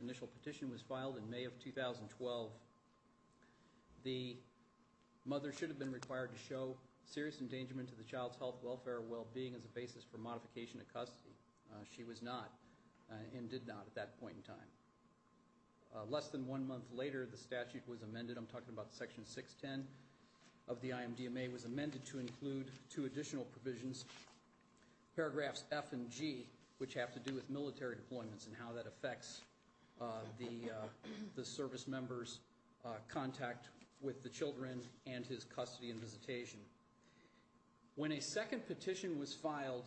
initial petition was filed in May of 2012. The mother should have been required to show serious endangerment to the child's health, welfare, well-being as a basis for modification of custody. She was not and did not at that point in time. Less than one month later, the statute was amended. I'm talking about Section 610 of the IMDMA, was amended to include two additional provisions, paragraphs F and G, which have to do with military deployments and how that affects the service member's contact with the children and his custody and visitation. When a second petition was filed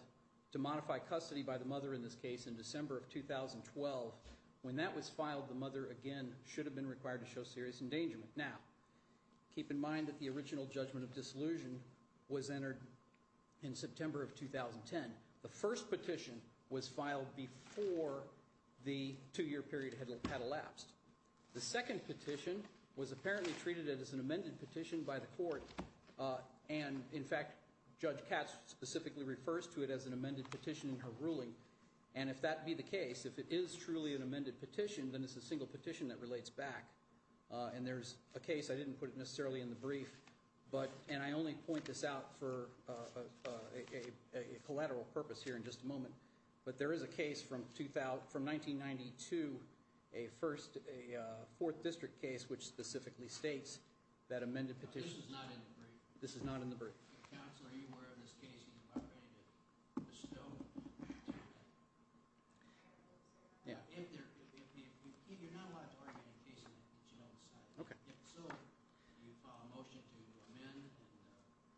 to modify custody by the mother in this case in December of 2012, when that was filed, the mother, again, should have been required to show serious endangerment. Now, keep in mind that the original judgment of disillusion was entered in September of 2010. The first petition was filed before the two-year period had elapsed. The second petition was apparently treated as an amended petition by the court. And, in fact, Judge Katz specifically refers to it as an amended petition in her ruling. And if that be the case, if it is truly an amended petition, then it's a single petition that relates back. And there's a case, I didn't put it necessarily in the brief, and I only point this out for a collateral purpose here in just a moment. But there is a case from 1992, a fourth district case, which specifically states that amended petition- This is not in the brief. This is not in the brief. Counsel, are you aware of this case? Are you ready to bestow? Yeah. You're not allowed to argue any case that you don't decide. Okay. If so, you file a motion to amend,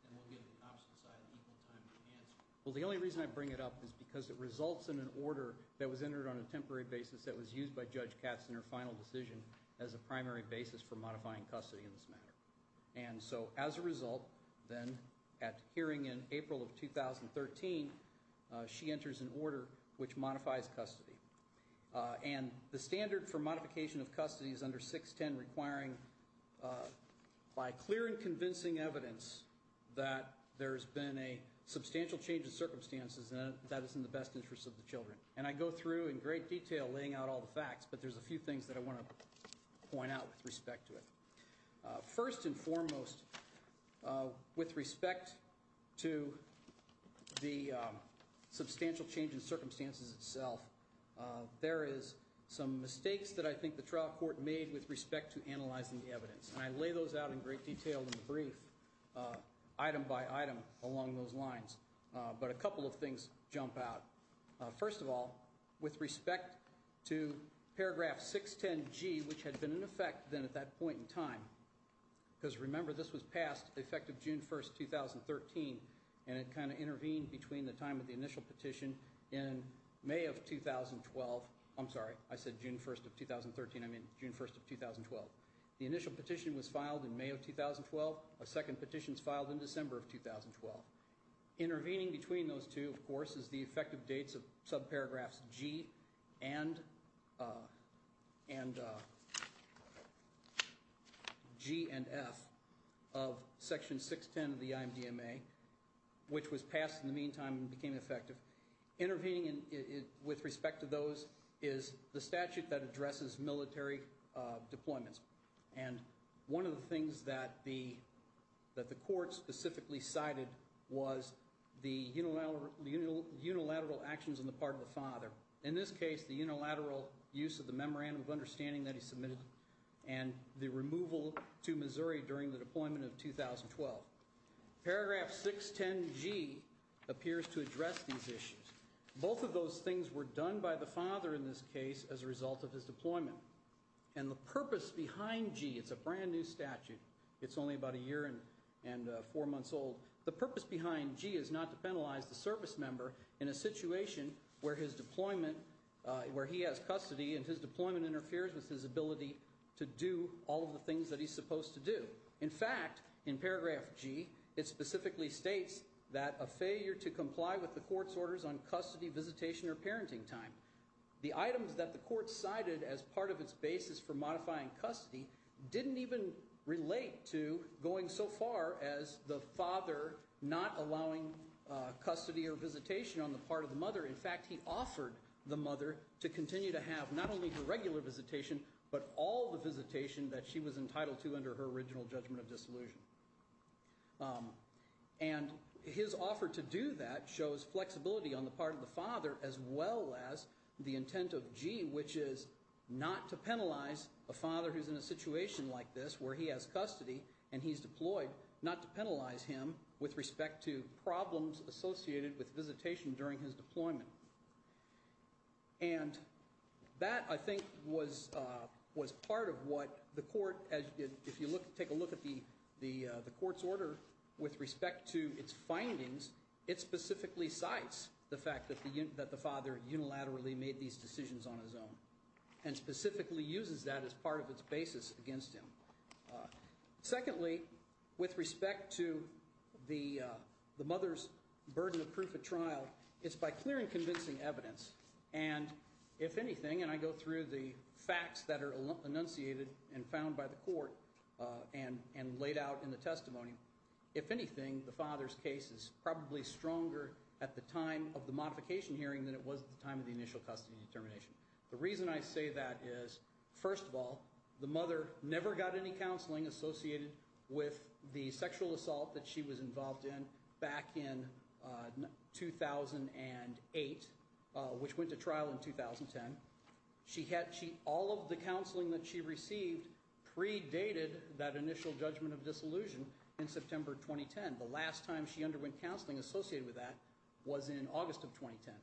and we'll give the opposite side equal time to answer. Well, the only reason I bring it up is because it results in an order that was entered on a temporary basis that was used by Judge Katz in her final decision as a primary basis for modifying custody in this matter. And so as a result, then, at hearing in April of 2013, she enters an order which modifies custody. And the standard for modification of custody is under 610, requiring by clear and convincing evidence that there's been a substantial change in circumstances that is in the best interest of the children. And I go through in great detail laying out all the facts, but there's a few things that I want to point out with respect to it. First and foremost, with respect to the substantial change in circumstances itself, there is some mistakes that I think the trial court made with respect to analyzing the evidence. And I lay those out in great detail in the brief, item by item, along those lines. But a couple of things jump out. First of all, with respect to paragraph 610G, which had been in effect then at that point in time, because remember this was passed effective June 1st, 2013, and it kind of intervened between the time of the initial petition in May of 2012. I'm sorry, I said June 1st of 2013. I mean June 1st of 2012. The initial petition was filed in May of 2012. A second petition is filed in December of 2012. Intervening between those two, of course, is the effective dates of subparagraphs G and F of section 610 of the IMDMA, which was passed in the meantime and became effective. Intervening with respect to those is the statute that addresses military deployments. And one of the things that the court specifically cited was the unilateral actions on the part of the father. In this case, the unilateral use of the memorandum of understanding that he submitted and the removal to Missouri during the deployment of 2012. Paragraph 610G appears to address these issues. Both of those things were done by the father in this case as a result of his deployment. And the purpose behind G, it's a brand new statute. It's only about a year and four months old. The purpose behind G is not to penalize the service member in a situation where his deployment, where he has custody and his deployment interferes with his ability to do all of the things that he's supposed to do. In fact, in paragraph G, it specifically states that a failure to comply with the court's orders on custody, visitation, or parenting time. The items that the court cited as part of its basis for modifying custody didn't even relate to going so far as the father not allowing custody or visitation on the part of the mother. In fact, he offered the mother to continue to have not only her regular visitation, but all the visitation that she was entitled to under her original judgment of disillusion. And his offer to do that shows flexibility on the part of the father as well as the intent of G, which is not to penalize a father who's in a situation like this where he has custody and he's deployed, not to penalize him with respect to problems associated with visitation during his deployment. And that, I think, was part of what the court, if you take a look at the court's order with respect to its findings, it specifically cites the fact that the father unilaterally made these decisions on his own and specifically uses that as part of its basis against him. Secondly, with respect to the mother's burden of proof at trial, it's by clear and convincing evidence. And if anything, and I go through the facts that are enunciated and found by the court and laid out in the testimony, if anything, the father's case is probably stronger at the time of the modification hearing than it was at the time of the initial custody determination. The reason I say that is, first of all, the mother never got any counseling associated with the sexual assault that she was involved in back in 2008, which went to trial in 2010. All of the counseling that she received predated that initial judgment of disillusion in September 2010. The last time she underwent counseling associated with that was in August of 2010.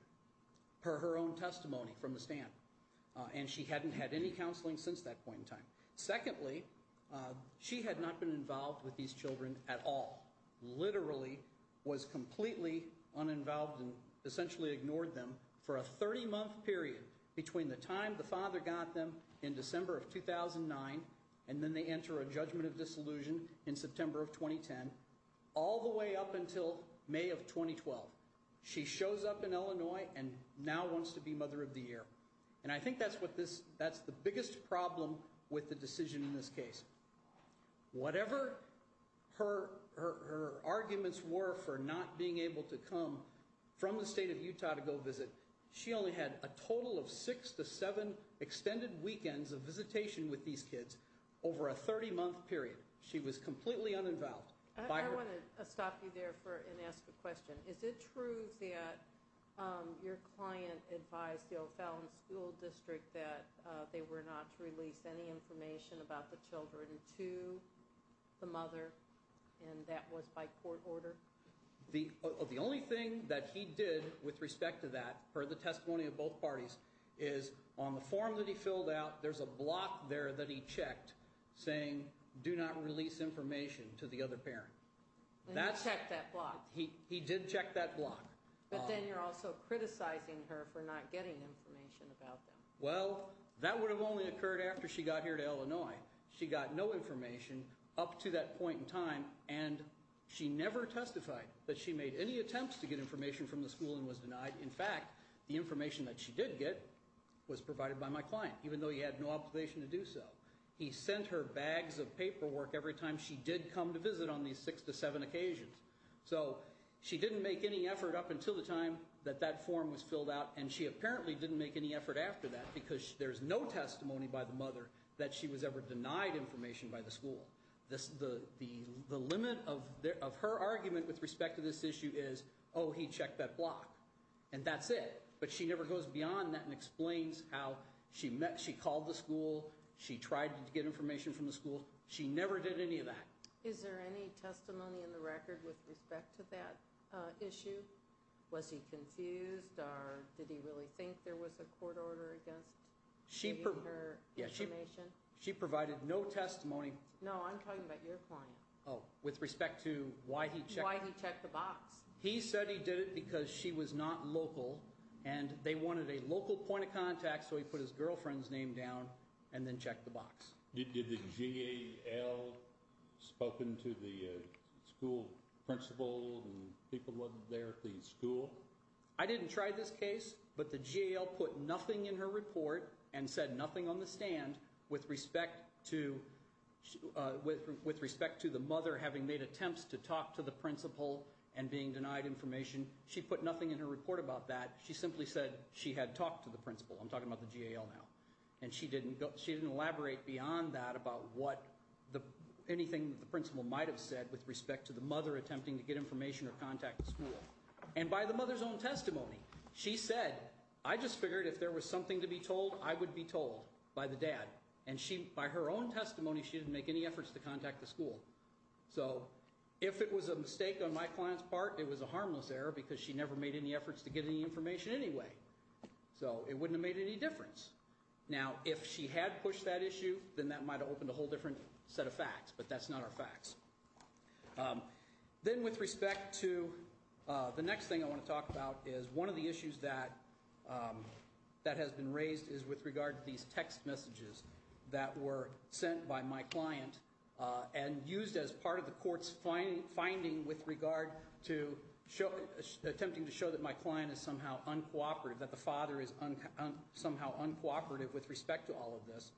Per her own testimony from the stand. And she hadn't had any counseling since that point in time. Secondly, she had not been involved with these children at all. Literally was completely uninvolved and essentially ignored them for a 30-month period between the time the father got them in December of 2009, and then they enter a judgment of disillusion in September of 2010, all the way up until May of 2012. She shows up in Illinois and now wants to be mother of the year. And I think that's the biggest problem with the decision in this case. Whatever her arguments were for not being able to come from the state of Utah to go visit, she only had a total of six to seven extended weekends of visitation with these kids over a 30-month period. She was completely uninvolved. I want to stop you there and ask a question. Is it true that your client advised the O'Fallon School District that they were not to release any information about the children to the mother, and that was by court order? The only thing that he did with respect to that, per the testimony of both parties, is on the form that he filled out, there's a block there that he checked saying, do not release information to the other parent. And he checked that block? He did check that block. But then you're also criticizing her for not getting information about them. Well, that would have only occurred after she got here to Illinois. She got no information up to that point in time, and she never testified that she made any attempts to get information from the school and was denied. In fact, the information that she did get was provided by my client, even though he had no obligation to do so. He sent her bags of paperwork every time she did come to visit on these six to seven occasions. So she didn't make any effort up until the time that that form was filled out, and she apparently didn't make any effort after that because there's no testimony by the mother that she was ever denied information by the school. The limit of her argument with respect to this issue is, oh, he checked that block, and that's it. But she never goes beyond that and explains how she called the school, she tried to get information from the school. She never did any of that. Is there any testimony in the record with respect to that issue? Was he confused, or did he really think there was a court order against giving her information? She provided no testimony. No, I'm talking about your client. Oh, with respect to why he checked the box. He said he did it because she was not local, and they wanted a local point of contact, Did the GAL spoken to the school principal and people there at the school? I didn't try this case, but the GAL put nothing in her report and said nothing on the stand with respect to the mother having made attempts to talk to the principal and being denied information. She put nothing in her report about that. She simply said she had talked to the principal. I'm talking about the GAL now. And she didn't elaborate beyond that about anything the principal might have said with respect to the mother attempting to get information or contact the school. And by the mother's own testimony, she said, I just figured if there was something to be told, I would be told by the dad. And by her own testimony, she didn't make any efforts to contact the school. So if it was a mistake on my client's part, it was a harmless error because she never made any efforts to get any information anyway. So it wouldn't have made any difference. Now, if she had pushed that issue, then that might have opened a whole different set of facts. But that's not our facts. Then with respect to the next thing I want to talk about is one of the issues that has been raised is with regard to these text messages that were sent by my client and used as part of the court's finding with regard to attempting to show that my client is somehow uncooperative, that the father is somehow uncooperative with respect to all of this.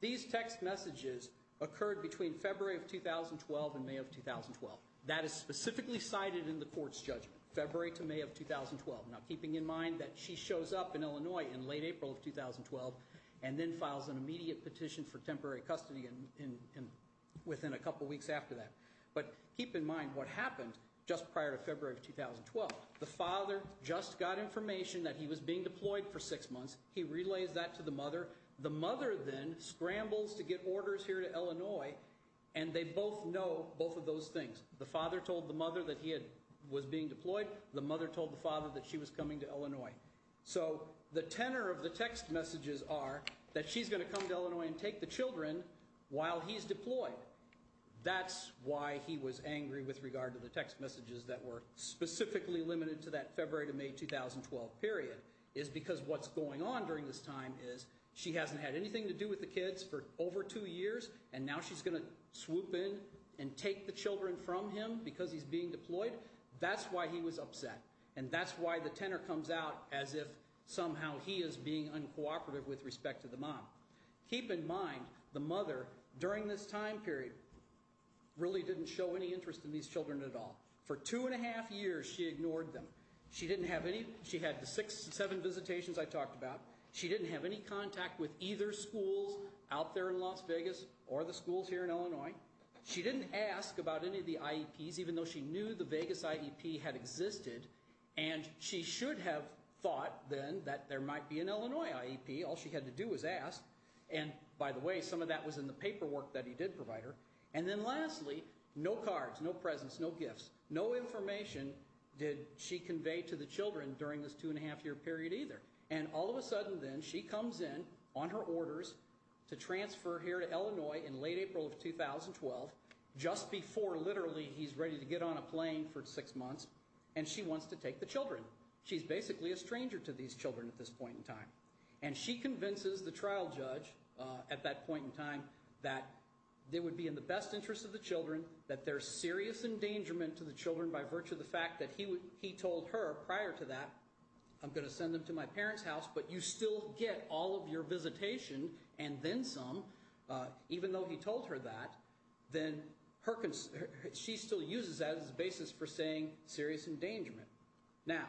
These text messages occurred between February of 2012 and May of 2012. That is specifically cited in the court's judgment, February to May of 2012. Now, keeping in mind that she shows up in Illinois in late April of 2012 and then files an immediate petition for temporary custody within a couple weeks after that. But keep in mind what happened just prior to February of 2012. The father just got information that he was being deployed for six months. He relays that to the mother. The mother then scrambles to get orders here to Illinois, and they both know both of those things. The father told the mother that he was being deployed. The mother told the father that she was coming to Illinois. So the tenor of the text messages are that she's going to come to Illinois and take the children while he's deployed. That's why he was angry with regard to the text messages that were specifically limited to that February to May 2012 period, is because what's going on during this time is she hasn't had anything to do with the kids for over two years, and now she's going to swoop in and take the children from him because he's being deployed. That's why he was upset, and that's why the tenor comes out as if somehow he is being uncooperative with respect to the mom. Keep in mind the mother during this time period really didn't show any interest in these children at all. For two and a half years she ignored them. She didn't have any. She had the six, seven visitations I talked about. She didn't have any contact with either schools out there in Las Vegas or the schools here in Illinois. She didn't ask about any of the IEPs even though she knew the Vegas IEP had existed, and she should have thought then that there might be an Illinois IEP. All she had to do was ask, and by the way, some of that was in the paperwork that he did provide her. And then lastly, no cards, no presents, no gifts, no information did she convey to the children during this two and a half year period either. And all of a sudden then she comes in on her orders to transfer here to Illinois in late April of 2012, just before literally he's ready to get on a plane for six months, and she wants to take the children. She's basically a stranger to these children at this point in time. And she convinces the trial judge at that point in time that it would be in the best interest of the children, that there's serious endangerment to the children by virtue of the fact that he told her prior to that, I'm going to send them to my parents' house, but you still get all of your visitation, and then some, even though he told her that, then she still uses that as a basis for saying serious endangerment. Now,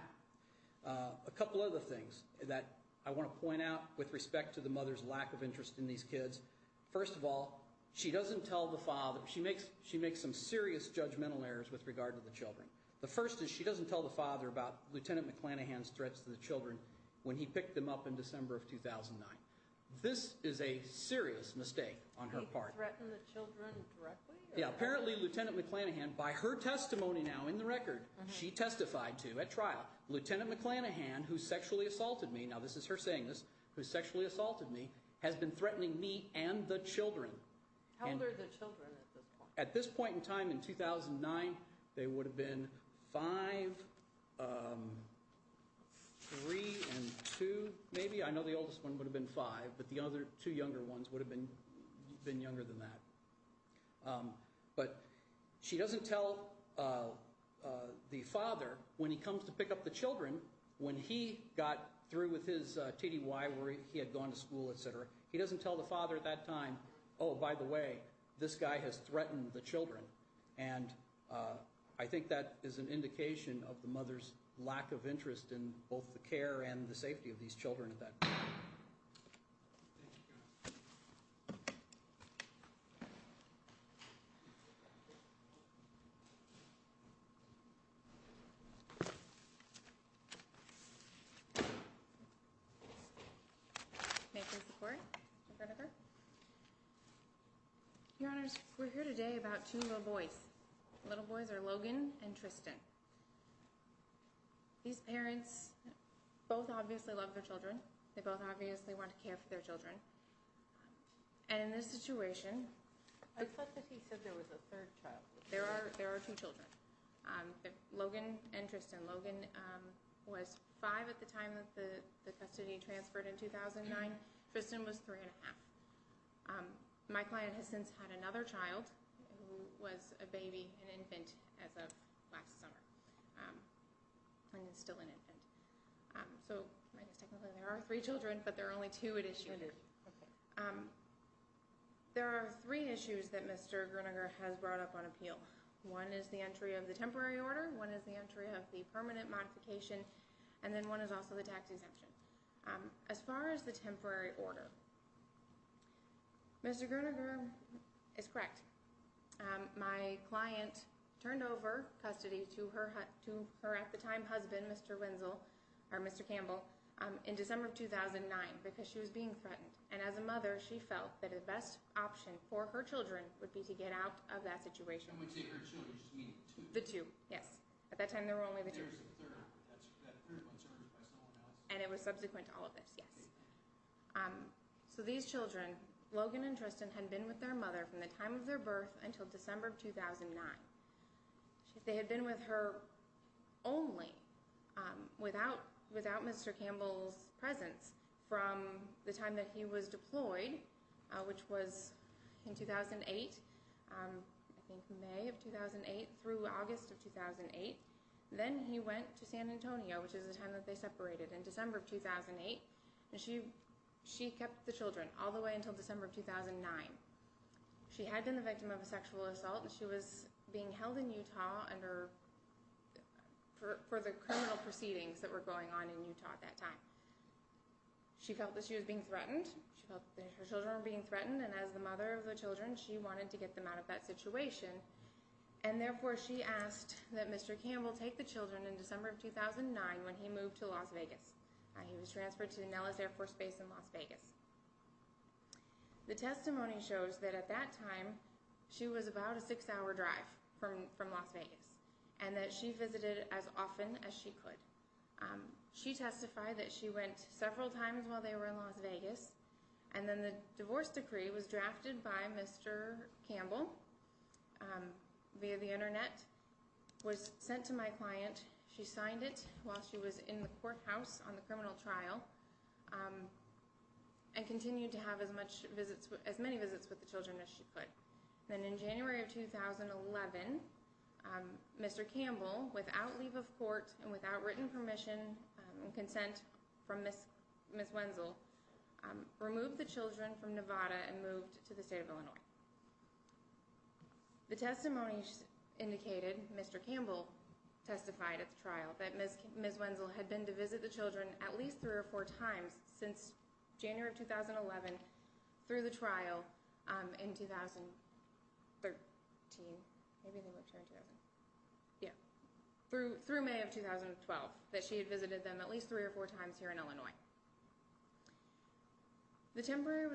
a couple other things that I want to point out with respect to the mother's lack of interest in these kids. First of all, she doesn't tell the father. She makes some serious judgmental errors with regard to the children. The first is she doesn't tell the father about Lieutenant McClanahan's threats to the children when he picked them up in December of 2009. This is a serious mistake on her part. He threatened the children directly? Yeah, apparently Lieutenant McClanahan, by her testimony now in the record, she testified to at trial, Lieutenant McClanahan, who sexually assaulted me, now this is her saying this, who sexually assaulted me, has been threatening me and the children. How old are the children at this point? At this point in time in 2009, they would have been five, three, and two maybe. I know the oldest one would have been five, but the other two younger ones would have been younger than that. But she doesn't tell the father when he comes to pick up the children when he got through with his TDY, where he had gone to school, et cetera. He doesn't tell the father at that time, oh, by the way, this guy has threatened the children. And I think that is an indication of the mother's lack of interest in both the care and the safety of these children at that point. Thank you. Thank you. Your Honors, we're here today about two little boys. The little boys are Logan and Tristan. These parents both obviously love their children. They both obviously want to care for their children. And in this situation- I thought that he said there was a third child. There are two children, Logan and Tristan. Logan was five at the time that the custody transferred in 2009. Tristan was three and a half. My client has since had another child who was a baby, an infant, as of last summer, and is still an infant. So technically there are three children, but there are only two at issue. There are three issues that Mr. Gruninger has brought up on appeal. One is the entry of the temporary order. One is the entry of the permanent modification. And then one is also the tax exemption. As far as the temporary order, Mr. Gruninger is correct. My client turned over custody to her at the time husband, Mr. Wenzel, or Mr. Campbell, in December of 2009 because she was being threatened. And as a mother, she felt that the best option for her children would be to get out of that situation. When you say her children, you just mean the two? The two, yes. At that time there were only the two. There was a third. That third one was murdered by someone else. And it was subsequent to all of this, yes. So these children, Logan and Tristan, had been with their mother from the time of their birth until December of 2009. They had been with her only, without Mr. Campbell's presence, from the time that he was deployed, which was in 2008, I think May of 2008 through August of 2008. Then he went to San Antonio, which is the time that they separated, in December of 2008. And she kept the children all the way until December of 2009. She had been the victim of a sexual assault, and she was being held in Utah for the criminal proceedings that were going on in Utah at that time. She felt that she was being threatened. She felt that her children were being threatened. And as the mother of the children, she wanted to get them out of that situation. And therefore, she asked that Mr. Campbell take the children in December of 2009 when he moved to Las Vegas. He was transferred to Nellis Air Force Base in Las Vegas. The testimony shows that at that time, she was about a six-hour drive from Las Vegas, and that she visited as often as she could. She testified that she went several times while they were in Las Vegas. And then the divorce decree was drafted by Mr. Campbell via the Internet, was sent to my client. She signed it while she was in the courthouse on the criminal trial and continued to have as many visits with the children as she could. Then in January of 2011, Mr. Campbell, without leave of court and without written permission and consent from Ms. Wenzel, removed the children from Nevada and moved to the state of Illinois. The testimony indicated Mr. Campbell testified at the trial that Ms. Wenzel had been to visit the children at least three or four times since January of 2011 through the trial in 2013, through May of 2012, that she had visited them at least three or four times here in Illinois. The temporary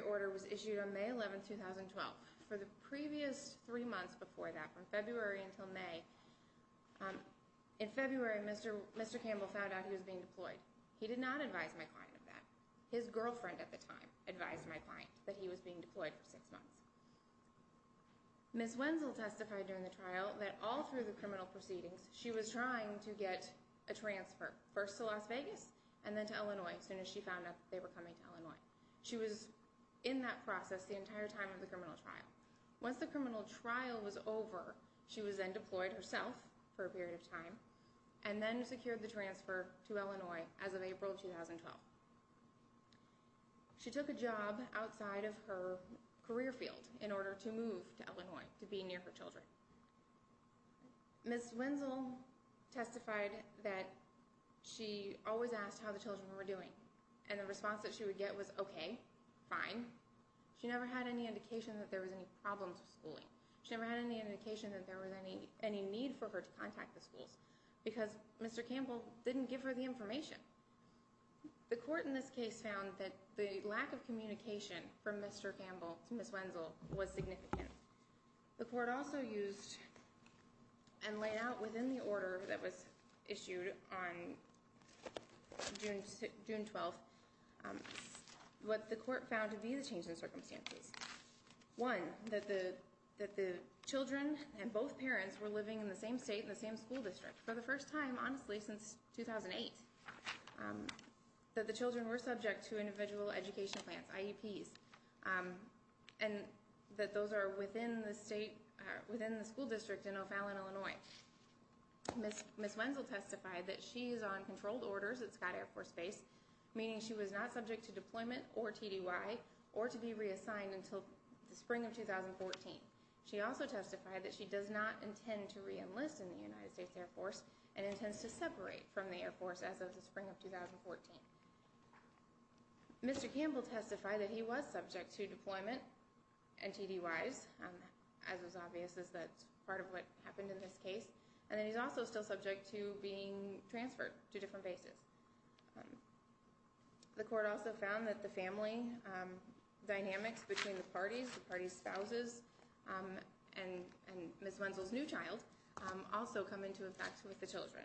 order was issued on May 11, 2012. For the previous three months before that, from February until May, in February, Mr. Campbell found out he was being deployed. He did not advise my client of that. His girlfriend at the time advised my client that he was being deployed for six months. Ms. Wenzel testified during the trial that all through the criminal proceedings, she was trying to get a transfer, first to Las Vegas and then to Illinois as soon as she found out they were coming to Illinois. She was in that process the entire time of the criminal trial. Once the criminal trial was over, she was then deployed herself for a period of time and then secured the transfer to Illinois as of April 2012. She took a job outside of her career field in order to move to Illinois to be near her children. Ms. Wenzel testified that she always asked how the children were doing. And the response that she would get was, okay, fine. She never had any indication that there was any problems with schooling. She never had any indication that there was any need for her to contact the schools because Mr. Campbell didn't give her the information. The court in this case found that the lack of communication from Mr. Campbell to Ms. Wenzel was significant. The court also used and laid out within the order that was issued on June 12th what the court found to be the change in circumstances. One, that the children and both parents were living in the same state in the same school district for the first time, honestly, since 2008. That the children were subject to individual education plans, IEPs, and that those are within the school district in O'Fallon, Illinois. Ms. Wenzel testified that she is on controlled orders at Scott Air Force Base, meaning she was not subject to deployment or TDY or to be reassigned until the spring of 2014. She also testified that she does not intend to re-enlist in the United States Air Force and intends to separate from the Air Force as of the spring of 2014. Mr. Campbell testified that he was subject to deployment and TDYs, as is obvious as that's part of what happened in this case. And that he's also still subject to being transferred to different bases. The court also found that the family dynamics between the parties, the parties' spouses, and Ms. Wenzel's new child, also come into effect with the children.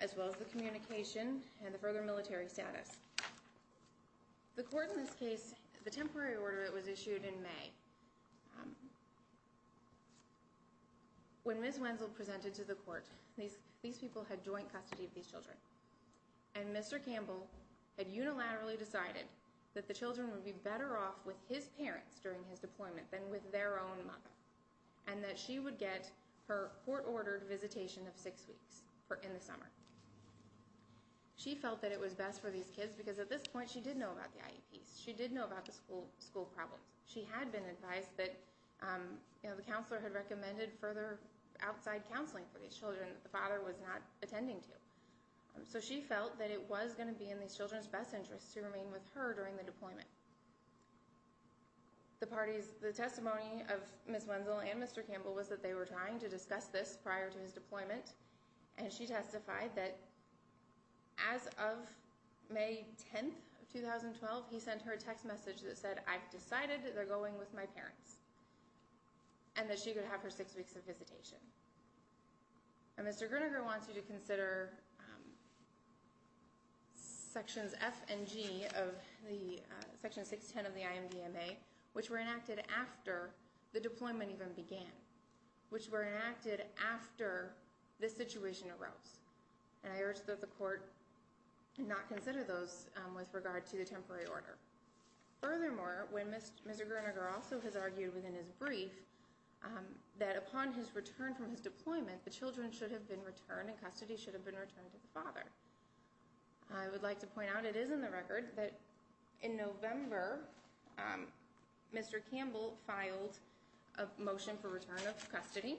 As well as the communication and the further military status. The court in this case, the temporary order that was issued in May, when Ms. Wenzel presented to the court, these people had joint custody of these children. And Mr. Campbell had unilaterally decided that the children would be better off with his parents during his deployment than with their own mother. And that she would get her court-ordered visitation of six weeks in the summer. She felt that it was best for these kids because at this point she did know about the IEPs. She did know about the school problems. She had been advised that the counselor had recommended further outside counseling for these children that the father was not attending to. So she felt that it was going to be in these children's best interest to remain with her during the deployment. The parties, the testimony of Ms. Wenzel and Mr. Campbell was that they were trying to discuss this prior to his deployment. And she testified that as of May 10, 2012, he sent her a text message that said, I've decided they're going with my parents. And that she could have her six weeks of visitation. And Mr. Groninger wants you to consider Sections F and G of the Section 610 of the IMDMA, which were enacted after the deployment even began. Which were enacted after this situation arose. And I urge that the court not consider those with regard to the temporary order. Furthermore, when Mr. Groninger also has argued within his brief that upon his return from his deployment, the children should have been returned and custody should have been returned to the father. I would like to point out, it is in the record, that in November, Mr. Campbell filed a motion for return of custody.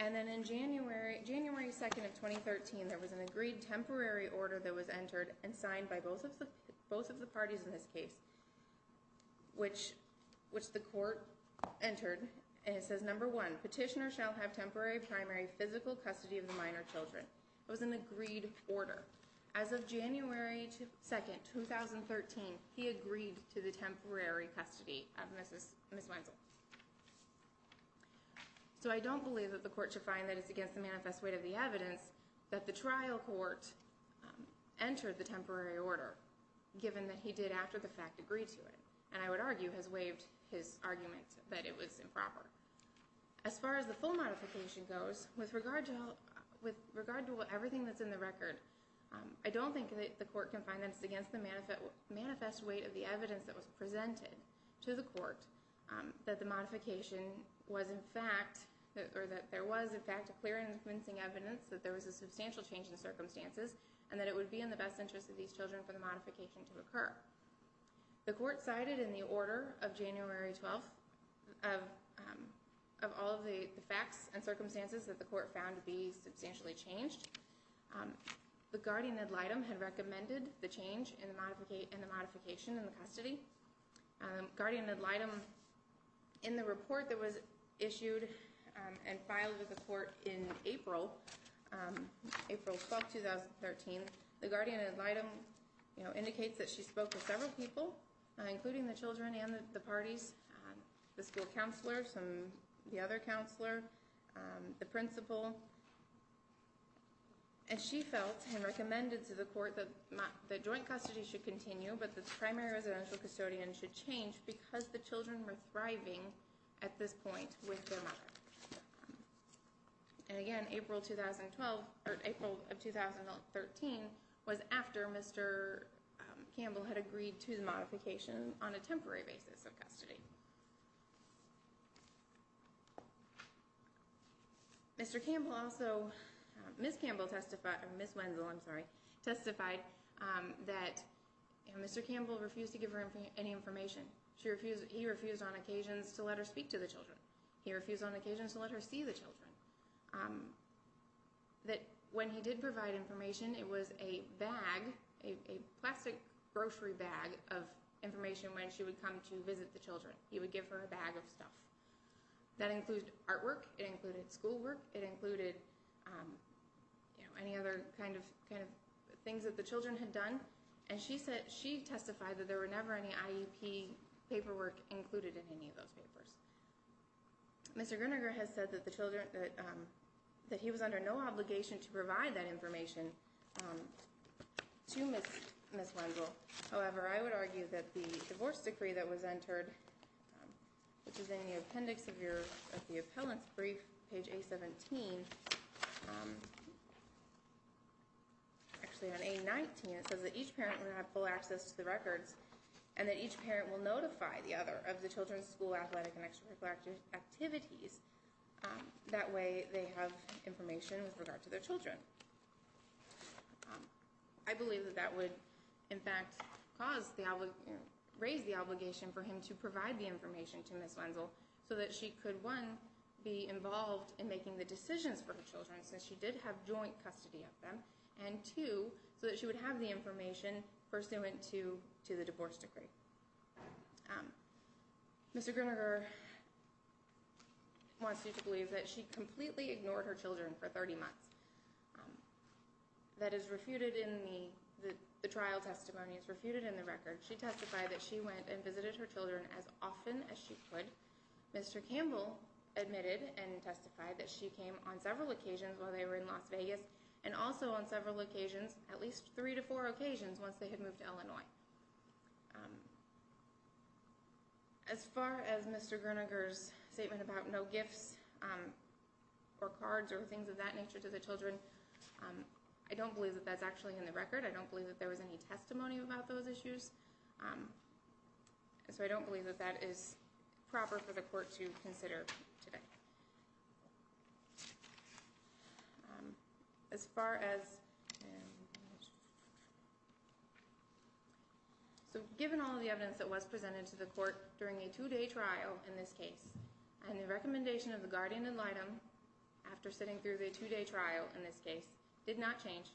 And then in January 2, 2013, there was an agreed temporary order that was entered and signed by both of the parties in this case. Which the court entered, and it says, number one, petitioner shall have temporary primary physical custody of the minor children. It was an agreed order. As of January 2, 2013, he agreed to the temporary custody of Ms. Wenzel. So I don't believe that the court should find that it's against the manifest weight of the evidence that the trial court entered the temporary order. Given that he did, after the fact, agree to it. And I would argue has waived his argument that it was improper. As far as the full modification goes, with regard to everything that's in the record, I don't think that the court can find that it's against the manifest weight of the evidence that was presented to the court that the modification was in fact, or that there was in fact a clear and convincing evidence that there was a substantial change in circumstances and that it would be in the best interest of these children for the modification to occur. The court cited in the order of January 12, of all of the facts and circumstances that the court found to be substantially changed, the guardian ad litem had recommended the change in the modification in the custody. Guardian ad litem, in the report that was issued and filed to the court in April, April 12, 2013, the guardian ad litem indicates that she spoke to several people, including the children and the parties, the school counselor, the other counselor, the principal. And she felt and recommended to the court that joint custody should continue, but the primary residential custodian should change because the children were thriving at this point with their mother. And again, April of 2013 was after Mr. Campbell had agreed to the modification on a temporary basis of custody. Mr. Campbell also, Ms. Campbell testified, Ms. Wenzel, I'm sorry, testified that Mr. Campbell refused to give her any information. He refused on occasions to let her speak to the children. He refused on occasions to let her see the children. That when he did provide information, it was a bag, a plastic grocery bag of information when she would come to visit the children. He would give her a bag of stuff. That includes artwork, it included schoolwork, it included any other kind of things that the children had done. And she testified that there were never any IEP paperwork included in any of those papers. Mr. Gruninger has said that he was under no obligation to provide that information to Ms. Wenzel. However, I would argue that the divorce decree that was entered, which is in the appendix of the appellant's brief, page A-17, actually on A-19, it says that each parent will have full access to the records and that each parent will notify the other of the children's school, athletic, and extracurricular activities. That way, they have information with regard to their children. I believe that that would, in fact, raise the obligation for him to provide the information to Ms. Wenzel so that she could, one, be involved in making the decisions for her children since she did have joint custody of them, and two, so that she would have the information pursuant to the divorce decree. Mr. Gruninger wants you to believe that she completely ignored her children for 30 months. That is refuted in the trial testimonies, refuted in the records. She testified that she went and visited her children as often as she could. Mr. Campbell admitted and testified that she came on several occasions while they were in Las Vegas and also on several occasions, at least three to four occasions, once they had moved to Illinois. As far as Mr. Gruninger's statement about no gifts or cards or things of that nature to the children, I don't believe that that's actually in the record. I don't believe that there was any testimony about those issues. So I don't believe that that is proper for the court to consider today. As far as... So given all of the evidence that was presented to the court during a two-day trial in this case, and the recommendation of the guardian ad litem after sitting through the two-day trial in this case did not change,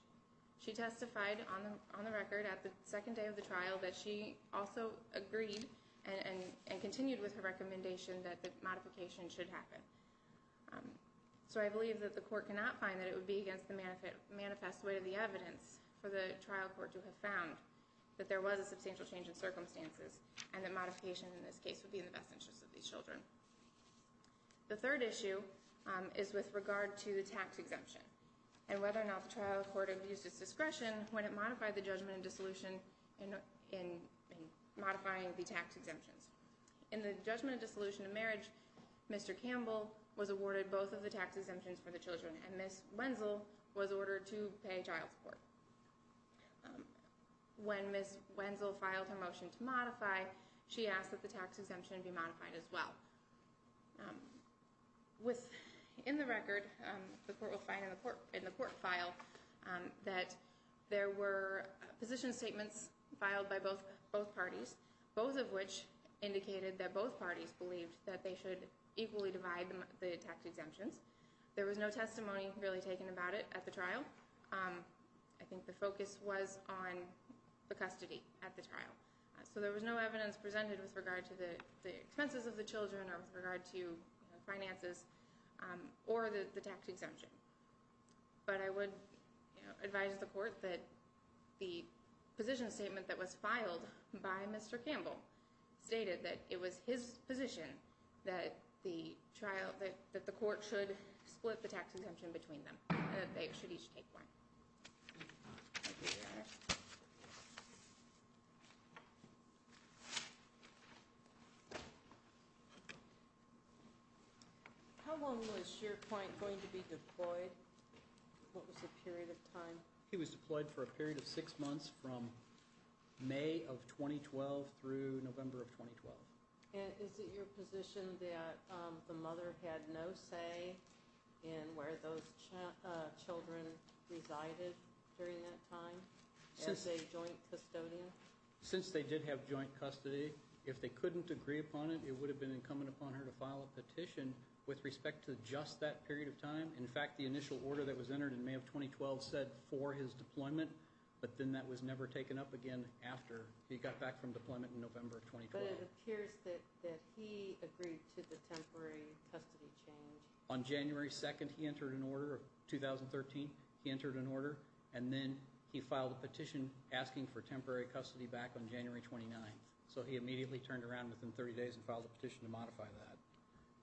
she testified on the record at the second day of the trial that she also agreed and continued with her recommendation that the modification should happen. So I believe that the court cannot find that it would be against the manifest weight of the evidence for the trial court to have found that there was a substantial change in circumstances and that modification in this case would be in the best interest of these children. The third issue is with regard to the tax exemption and whether or not the trial court abused its discretion when it modified the judgment in dissolution in modifying the tax exemptions. In the judgment of dissolution in marriage, Mr. Campbell was awarded both of the tax exemptions for the children and Ms. Wenzel was ordered to pay child support. When Ms. Wenzel filed her motion to modify, she asked that the tax exemption be modified as well. In the record, the court will find in the court file, that there were position statements filed by both parties, both of which indicated that both parties believed that they should equally divide the tax exemptions. There was no testimony really taken about it at the trial. I think the focus was on the custody at the trial. So there was no evidence presented with regard to the expenses of the children or with regard to finances or the tax exemption. But I would advise the court that the position statement that was filed by Mr. Campbell stated that it was his position that the court should split the tax exemption between them, that they should each take one. Thank you, Your Honor. How long was SharePoint going to be deployed? What was the period of time? It was deployed for a period of six months from May of 2012 through November of 2012. Is it your position that the mother had no say in where those children resided during that time as a joint custodian? Since they did have joint custody, if they couldn't agree upon it, it would have been incumbent upon her to file a petition with respect to just that period of time. In fact, the initial order that was entered in May of 2012 said for his deployment, but then that was never taken up again after he got back from deployment in November of 2012. But it appears that he agreed to the temporary custody change. On January 2nd, 2013, he entered an order, and then he filed a petition asking for temporary custody back on January 29th. So he immediately turned around within 30 days and filed a petition to modify that.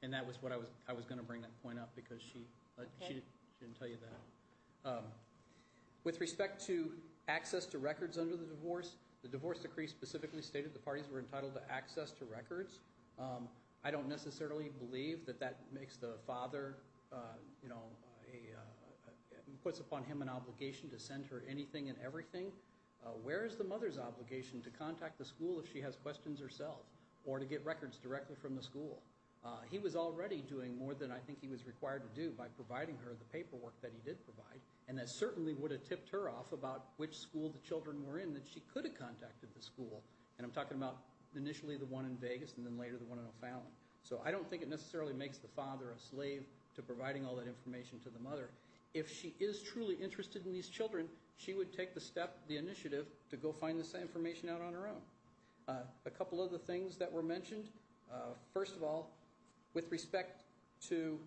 And that was what I was going to bring that point up because she didn't tell you that. With respect to access to records under the divorce, the divorce decree specifically stated the parties were entitled to access to records. I don't necessarily believe that that makes the father, you know, puts upon him an obligation to send her anything and everything. Where is the mother's obligation to contact the school if she has questions herself or to get records directly from the school? He was already doing more than I think he was required to do by providing her the paperwork that he did provide, and that certainly would have tipped her off about which school the children were in that she could have contacted the school. And I'm talking about initially the one in Vegas and then later the one in O'Fallon. So I don't think it necessarily makes the father a slave to providing all that information to the mother. If she is truly interested in these children, she would take the step, the initiative, to go find this information out on her own. A couple other things that were mentioned. First of all, with respect to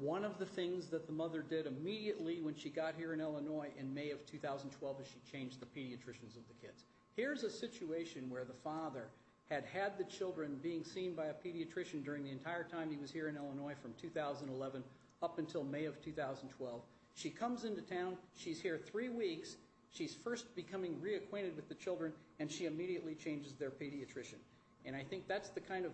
one of the things that the mother did immediately when she got here in Illinois in May of 2012 is she changed the pediatricians of the kids. Here's a situation where the father had had the children being seen by a pediatrician during the entire time he was here in Illinois from 2011 up until May of 2012. She comes into town. She's here three weeks. She's first becoming reacquainted with the children, and she immediately changes their pediatrician. And I think that's the kind of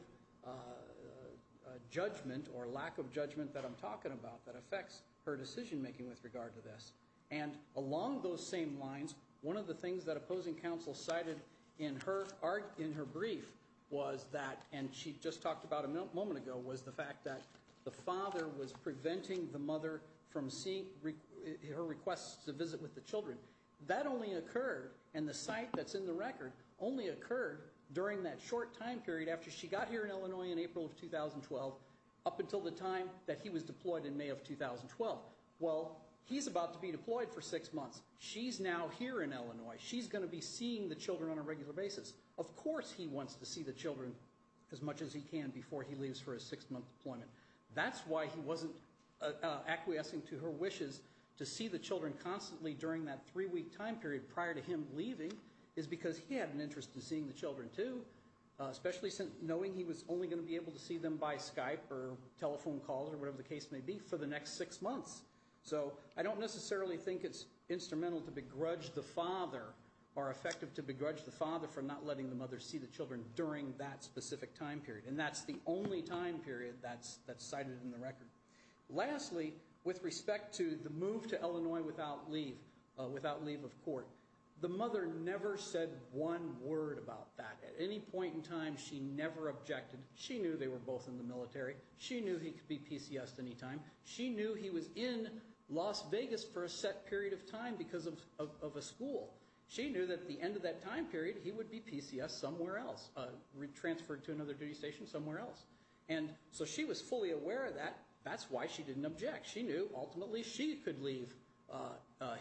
judgment or lack of judgment that I'm talking about that affects her decision-making with regard to this. And along those same lines, one of the things that opposing counsel cited in her brief was that, and she just talked about a moment ago, was the fact that the father was preventing the mother from seeing her request to visit with the children. That only occurred, and the site that's in the record only occurred during that short time period after she got here in Illinois in April of 2012 up until the time that he was deployed in May of 2012. Well, he's about to be deployed for six months. She's now here in Illinois. She's going to be seeing the children on a regular basis. Of course he wants to see the children as much as he can before he leaves for his six-month deployment. That's why he wasn't acquiescing to her wishes to see the children constantly during that three-week time period prior to him leaving is because he had an interest in seeing the children too, especially knowing he was only going to be able to see them by Skype or telephone calls or whatever the case may be for the next six months. So I don't necessarily think it's instrumental to begrudge the father or effective to begrudge the father for not letting the mother see the children during that specific time period. And that's the only time period that's cited in the record. Lastly, with respect to the move to Illinois without leave of court, the mother never said one word about that. At any point in time, she never objected. She knew they were both in the military. She knew he could be PCSed any time. She knew he was in Las Vegas for a set period of time because of a school. She knew that at the end of that time period, he would be PCSed somewhere else, transferred to another duty station somewhere else. And so she was fully aware of that. That's why she didn't object. She knew ultimately she could leave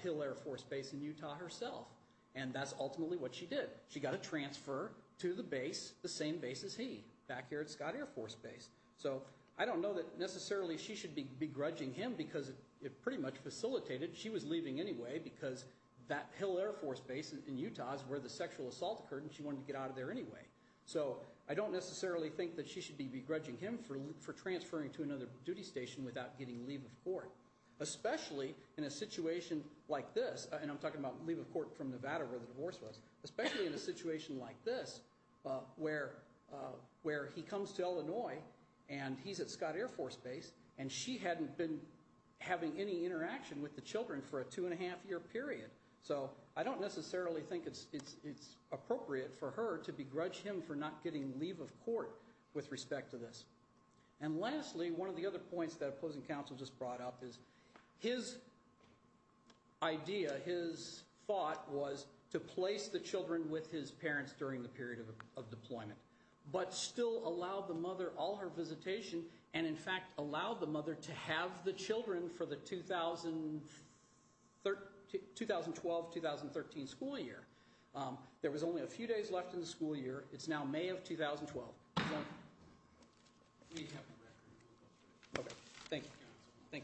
Hill Air Force Base in Utah herself. And that's ultimately what she did. She got a transfer to the base, the same base as he, back here at Scott Air Force Base. So I don't know that necessarily she should be begrudging him because it pretty much facilitated. She was leaving anyway because that Hill Air Force Base in Utah is where the sexual assault occurred, and she wanted to get out of there anyway. So I don't necessarily think that she should be begrudging him for transferring to another duty station without getting leave of court, especially in a situation like this, and I'm talking about leave of court from Nevada where the divorce was, especially in a situation like this where he comes to Illinois, and he's at Scott Air Force Base, and she hadn't been having any interaction with the children for a two-and-a-half-year period. So I don't necessarily think it's appropriate for her to begrudge him for not getting leave of court with respect to this. And lastly, one of the other points that opposing counsel just brought up is his idea, his thought, was to place the children with his parents during the period of deployment, but still allow the mother all her visitation and, in fact, allow the mother to have the children for the 2012-2013 school year. There was only a few days left in the school year. It's now May of 2012. Thank you. Thank you.